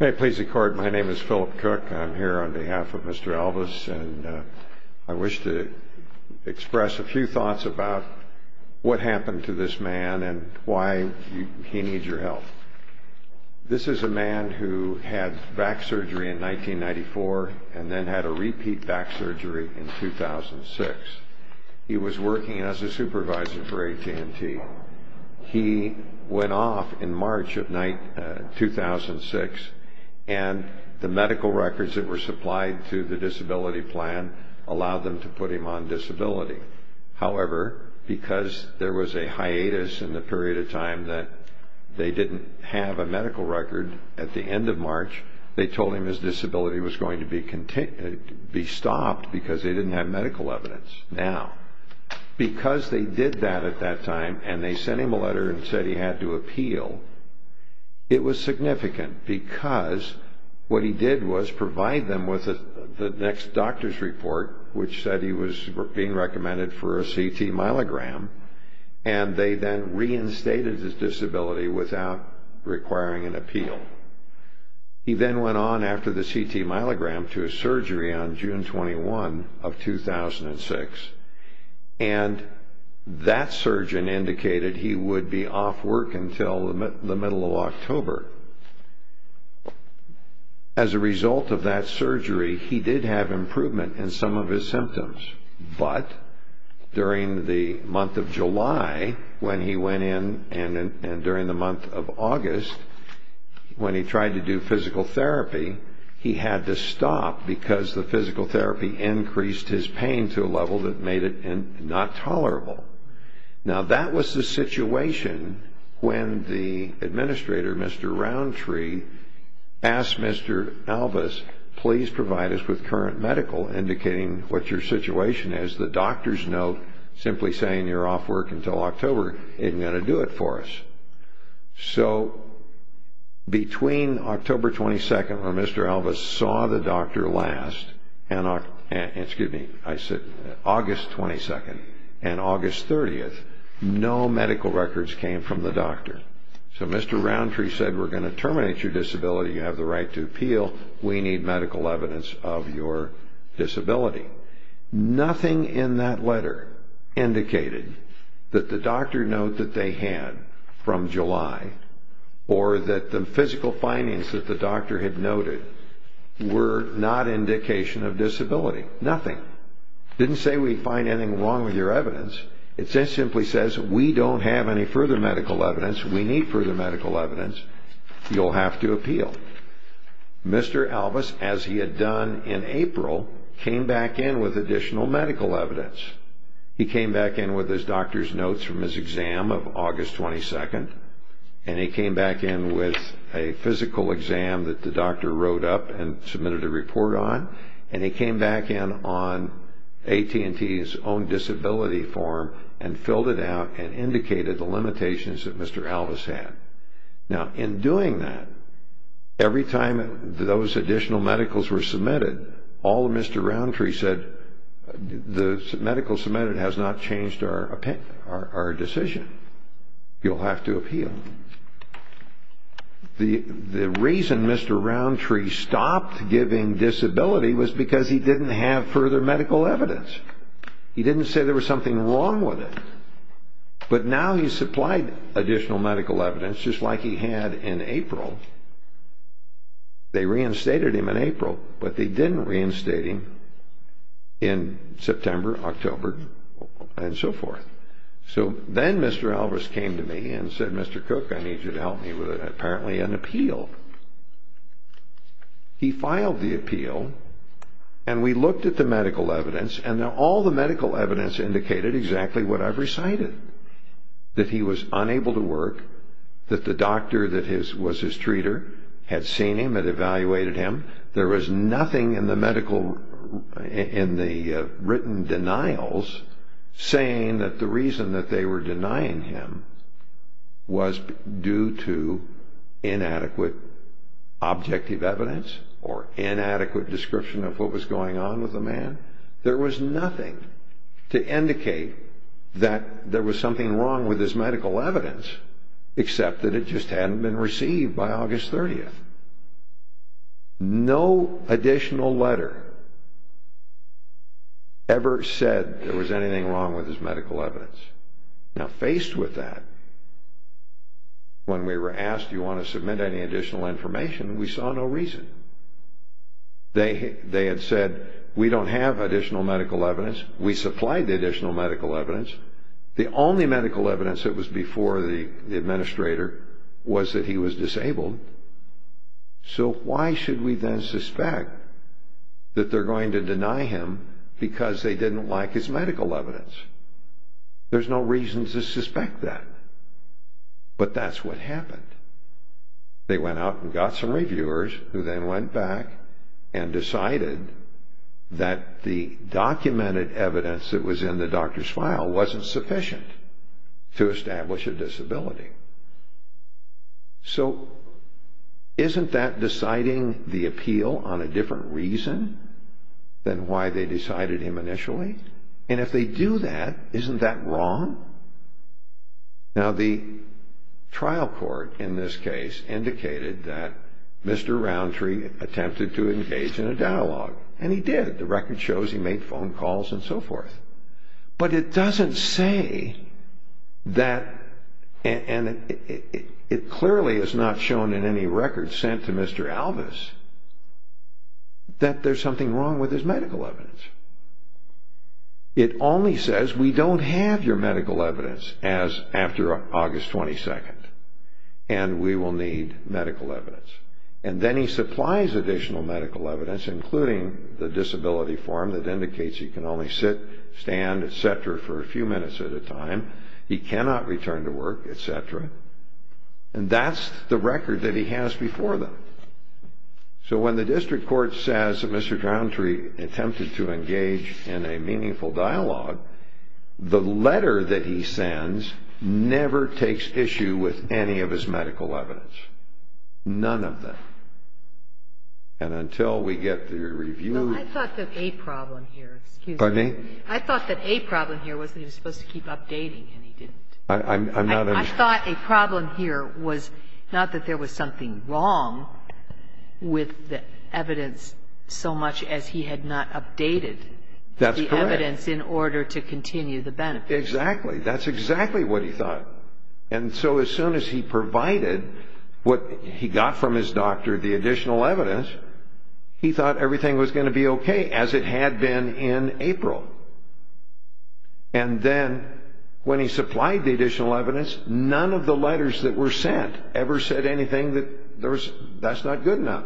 May it please the court, my name is Philip Cook. I'm here on behalf of Mr. Alvis and I wish to express a few thoughts about what happened to this man and why he needs your help. This is a man who had back surgery in 1994 and then had a repeat back surgery in 2006. He was working as a supervisor for AT&T. He went off in March of 2006 and the medical records that were supplied to the disability plan allowed them to put him on disability. However, because there was a hiatus in the period of time that they didn't have a medical record at the end of March, they told him his disability was going to be stopped because they didn't have medical evidence. Now, because they did that at that time and they sent him a letter and said he had to appeal, it was significant because what he did was provide them with the next doctor's report which said he was being recommended for a CT myelogram and they then reinstated his disability without requiring an appeal. He then went on after the CT myelogram to a surgery on June 21 of 2006 and that surgeon indicated he would be off work until the middle of October. However, as a result of that surgery, he did have improvement in some of his symptoms, but during the month of July when he went in and during the month of August when he tried to do physical therapy, he had to stop because the physical therapy increased his pain to a level that made it not tolerable. Now, that was the situation when the administrator, Mr. Roundtree, asked Mr. Alvis, please provide us with current medical indicating what your situation is. The doctor's note simply saying you're off work until October isn't going to do it for us. So, between August 22 and August 30, no medical records came from the doctor. So, Mr. Roundtree said we're going to terminate your disability. You have the right to appeal. We need medical evidence of your disability. Nothing in that letter indicated that the doctor note that they had from July or that the physical findings that the doctor had noted were not indication of disability. Nothing. It didn't say we'd find anything wrong with your evidence. It just simply says we don't have any further medical evidence. We need further medical evidence. You'll have to appeal. Mr. Alvis, as he had done in April, came back in with additional medical evidence. He came back in with his doctor's notes from his exam of August 22. He came back in with a physical exam that the doctor wrote up and submitted a report on. He came back in on AT&T's own disability form and filled it out and indicated the limitations that Mr. Alvis had. Now, in doing that, every time those additional medicals were submitted, all of Mr. Roundtree said the medical submitted has not changed our decision. You'll have to appeal. The reason Mr. Roundtree stopped giving disability was because he didn't have further medical evidence. He didn't say there was something wrong with it. But now he supplied additional medical evidence, just like he had in April. They reinstated him in April, but they didn't reinstate him in September, October, and so forth. So then Mr. Alvis came to me and said, Mr. Cook, I need you to help me with apparently an appeal. He filed the appeal, and we looked at the medical evidence, and all the medical evidence indicated exactly what I've recited, that he was unable to work, that the doctor that was his treater had seen him and evaluated him. There was nothing in the written denials saying that the reason that they were denying him was due to inadequate objective evidence or inadequate description of what was going on with the man. There was nothing to indicate that there was something wrong with his medical evidence except that it just hadn't been received by August 30th. No additional letter ever said there was anything wrong with his medical evidence. Now faced with that, when we were asked, do you want to submit any additional information, we saw no reason. They had said, we don't have additional medical evidence. We supplied the additional medical evidence. The only medical evidence that was before the administrator was that he was disabled. So why should we then suspect that they're going to deny him because they didn't like his medical evidence? There's no reason to suspect that. But that's what happened. They went out and got some reviewers who then went back and decided that the documented evidence that was in the doctor's file wasn't sufficient to establish a disability. So isn't that deciding the appeal on a different reason than why they decided him initially? And if they do that, isn't that wrong? Now the trial court in this case indicated that Mr. Roundtree attempted to engage in a dialogue, and he did. The record shows he made phone calls and so forth. But it doesn't say that, and it clearly is not shown in any record sent to Mr. Alvis, that there's something wrong with his medical evidence. It only says, we don't have your medical evidence as after August 22nd, and we will need medical evidence. And then he supplies additional medical evidence, including the disability form that indicates he can only sit, stand, et cetera, for a few minutes at a time. He cannot return to work, et cetera. And that's the record that he has before them. So when the district court says that Mr. Roundtree attempted to engage in a meaningful dialogue, the letter that he sends never takes issue with any of his medical evidence. None of them. And until we get the review. No, I thought that a problem here. Excuse me? I thought that a problem here was that he was supposed to keep updating, and he didn't. I thought a problem here was not that there was something wrong with the evidence so much as he had not updated. That's correct. The evidence in order to continue the benefit. Exactly. That's exactly what he thought. And so as soon as he provided what he got from his doctor, the additional evidence, he thought everything was going to be okay, as it had been in April. And then when he supplied the additional evidence, none of the letters that were sent ever said anything that that's not good enough.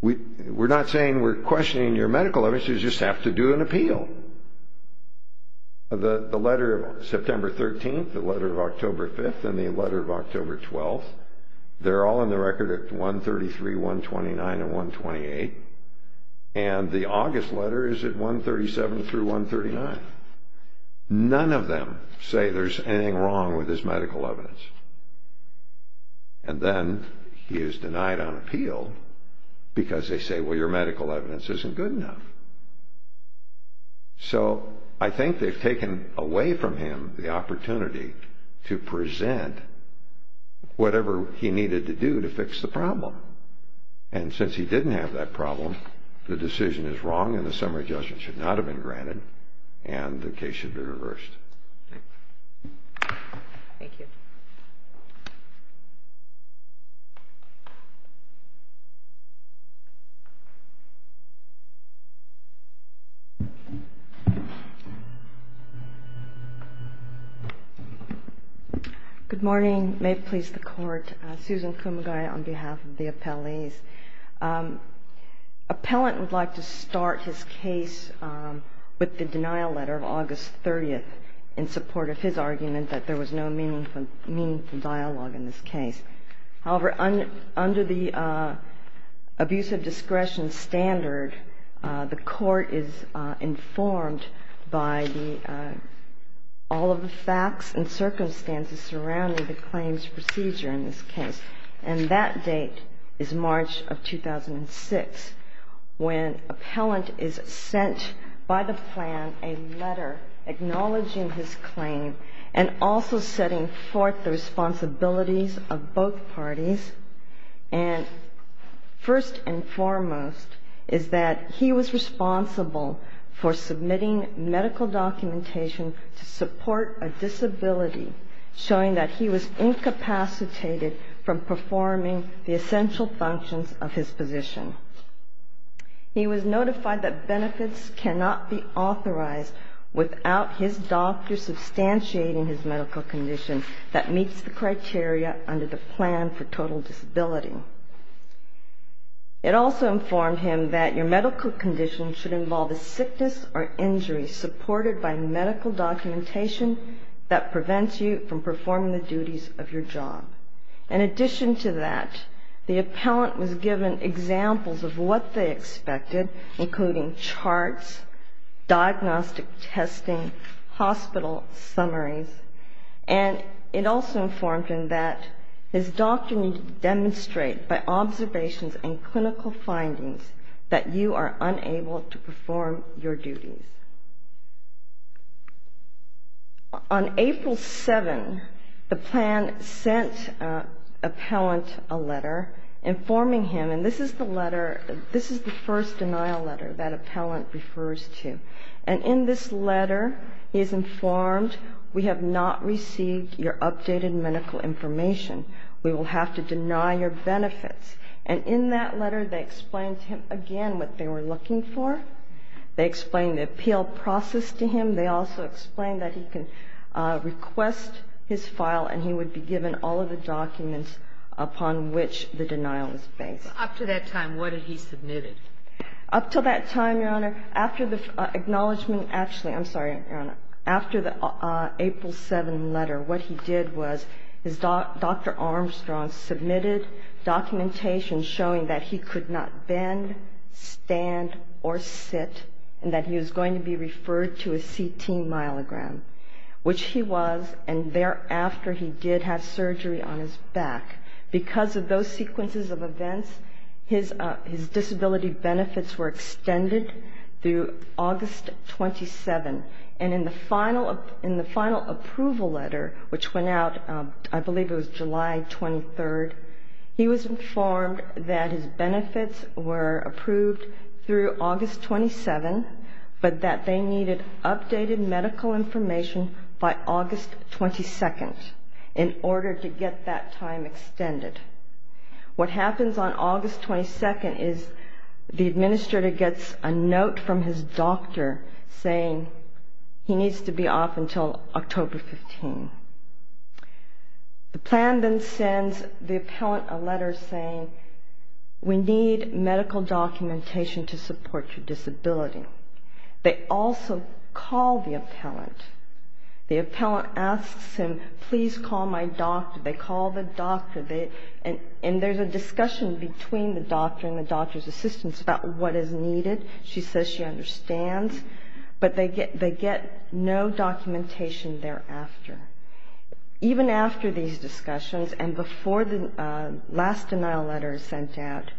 We're not saying we're questioning your medical evidence. You just have to do an appeal. The letter of September 13th, the letter of October 5th, and the letter of October 12th, they're all in the record at 133, 129, and 128. And the August letter is at 137 through 139. None of them say there's anything wrong with his medical evidence. And then he is denied on appeal because they say, well, your medical evidence isn't good enough. So I think they've taken away from him the opportunity to present whatever he needed to do to fix the problem. And since he didn't have that problem, the decision is wrong and the summary judgment should not have been granted and the case should be reversed. Thank you. Good morning. May it please the Court. I'm Susan Kumagai on behalf of the appellees. Appellant would like to start his case with the denial letter of August 30th in support of his argument that there was no meaningful dialogue in this case. However, under the abuse of discretion standard, the Court is informed by all of the facts and circumstances surrounding the claims procedure in this case. And that date is March of 2006 when appellant is sent by the plan a letter acknowledging his claim and also setting forth the responsibilities of both parties. And first and foremost is that he was responsible for submitting medical documentation to support a disability, showing that he was incapacitated from performing the essential functions of his position. He was notified that benefits cannot be authorized without his doctor substantiating his medical condition that meets the criteria under the plan for total disability. It also informed him that your medical condition should involve a sickness or injury supported by medical documentation that prevents you from performing the duties of your job. In addition to that, the appellant was given examples of what they expected, including charts, diagnostic testing, hospital summaries. And it also informed him that his doctor needed to demonstrate by observations and clinical findings that you are unable to perform your duties. On April 7, the plan sent appellant a letter informing him, and this is the letter, this is the first denial letter that appellant refers to. And in this letter he is informed we have not received your updated medical information. We will have to deny your benefits. And in that letter they explained to him again what they were looking for. They explained the appeal process to him. They also explained that he can request his file, and he would be given all of the documents upon which the denial is based. Up to that time, what did he submit? Up to that time, Your Honor, after the acknowledgment, actually, I'm sorry, Your Honor. After the April 7 letter, what he did was his doctor, Dr. Armstrong, submitted documentation showing that he could not bend, stand or sit, and that he was going to be referred to a CT myelogram, which he was, and thereafter he did have surgery on his back. Because of those sequences of events, his disability benefits were extended through August 27. And in the final approval letter, which went out, I believe it was July 23rd, he was informed that his benefits were approved through August 27, but that they needed updated medical information by August 22nd in order to get that time extended. What happens on August 22nd is the administrator gets a note from his doctor saying he needs to be off until October 15. The plan then sends the appellant a letter saying we need medical documentation to support your disability. They also call the appellant. The appellant asks him, please call my doctor. They call the doctor, and there's a discussion between the doctor and the doctor's assistant about what is needed. She says she understands, but they get no documentation thereafter. Even after these discussions and before the last denial letter is sent out,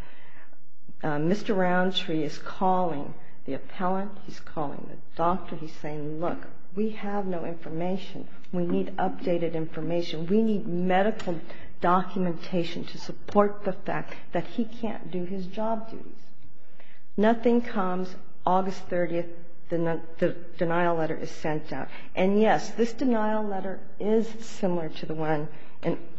Mr. Roundtree is calling the appellant. He's calling the doctor. He's saying, look, we have no information. We need updated information. We need medical documentation to support the fact that he can't do his job duties. Nothing comes August 30th. The denial letter is sent out. And, yes, this denial letter is similar to the one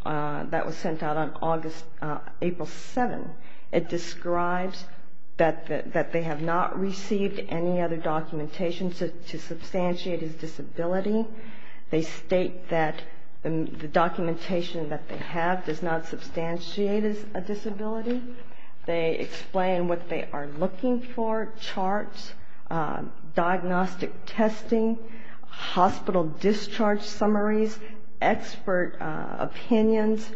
that was sent out on April 7th. It describes that they have not received any other documentation to substantiate his disability. They state that the documentation that they have does not substantiate his disability. They explain what they are looking for, charts, diagnostic testing, hospital discharge summaries, expert opinions,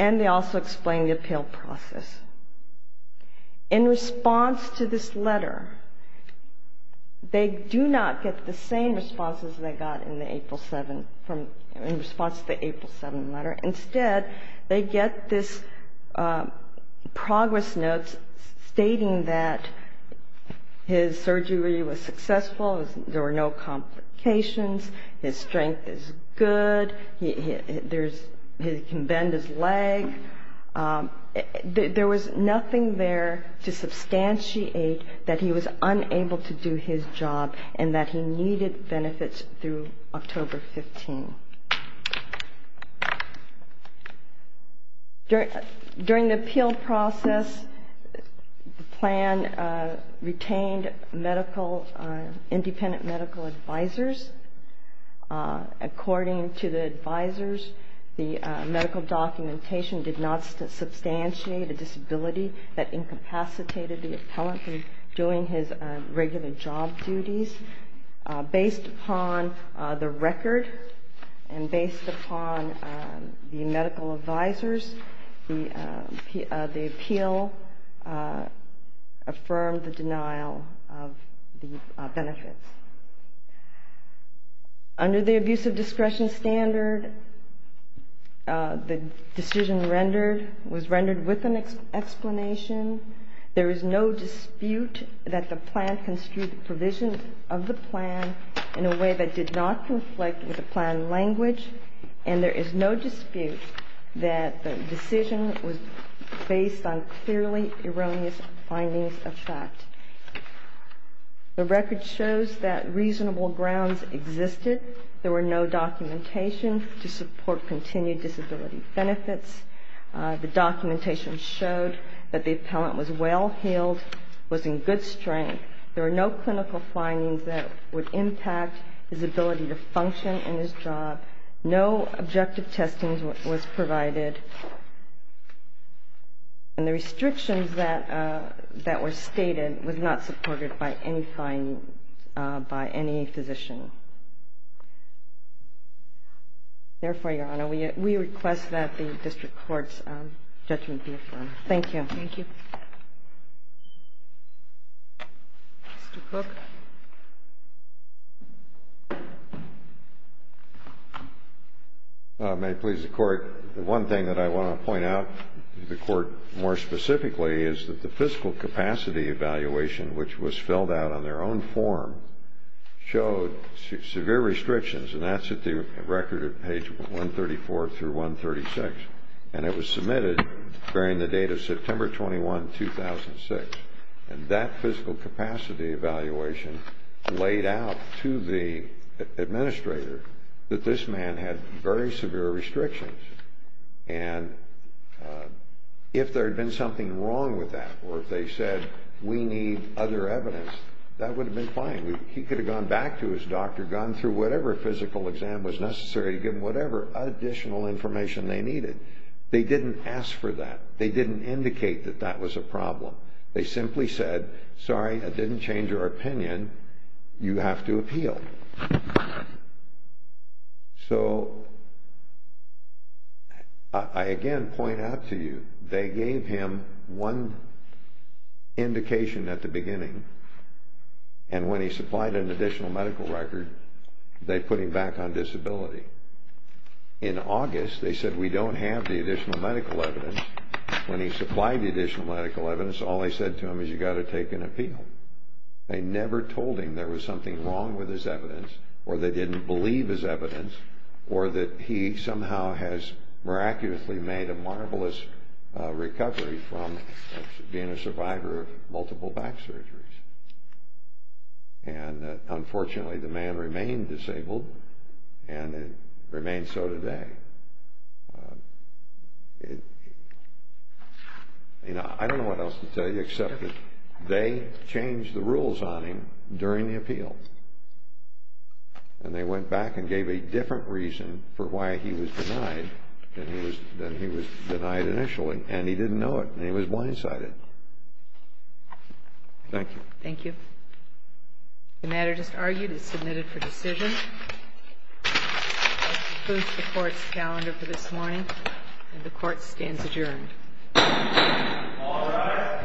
and they also explain the appeal process. In response to this letter, they do not get the same responses they got in response to the April 7th letter. Instead, they get this progress note stating that his surgery was successful, there were no complications, his strength is good, he can bend his leg. There was nothing there to substantiate that he was unable to do his job and that he needed benefits through October 15th. During the appeal process, the plan retained medical, independent medical advisors. According to the advisors, the medical documentation did not substantiate a disability that incapacitated the appellant from doing his regular job duties. Based upon the record and based upon the medical advisors, the appeal affirmed the denial of the benefits. Under the abuse of discretion standard, the decision was rendered with an explanation. There is no dispute that the plan construed the provisions of the plan in a way that did not conflict with the plan language and there is no dispute that the decision was based on clearly erroneous findings of fact. The record shows that reasonable grounds existed. There were no documentation to support continued disability benefits. The documentation showed that the appellant was well healed, was in good strength. There were no clinical findings that would impact his ability to function in his job. No objective testing was provided. And the restrictions that were stated were not supported by any physician. Therefore, Your Honor, we request that the district court's judgment be affirmed. Thank you. Thank you. Mr. Cook. May it please the Court. The one thing that I want to point out to the Court more specifically is that the fiscal capacity evaluation, which was filled out on their own form, showed severe restrictions, and that's at the record at page 134 through 136. And it was submitted during the date of September 21, 2006. And that fiscal capacity evaluation laid out to the administrator that this man had very severe restrictions. And if there had been something wrong with that or if they said, we need other evidence, that would have been fine. He could have gone back to his doctor, gone through whatever physical exam was necessary to give him whatever additional information they needed. They didn't ask for that. They didn't indicate that that was a problem. They simply said, sorry, that didn't change your opinion. You have to appeal. So, I again point out to you, they gave him one indication at the beginning, and when he supplied an additional medical record, they put him back on disability. In August, they said, we don't have the additional medical evidence. When he supplied the additional medical evidence, all they said to him is, you've got to take an appeal. They never told him there was something wrong with his evidence, or they didn't believe his evidence, or that he somehow has miraculously made a marvelous recovery from being a survivor of multiple back surgeries. And unfortunately, the man remained disabled, and it remains so today. I don't know what else to tell you, except that they changed the rules on him during the appeal, and they went back and gave a different reason for why he was denied than he was denied initially, and he didn't know it, and he was blindsided. Thank you. Thank you. The matter just argued is submitted for decision. That concludes the court's calendar for this morning, and the court stands adjourned. All rise.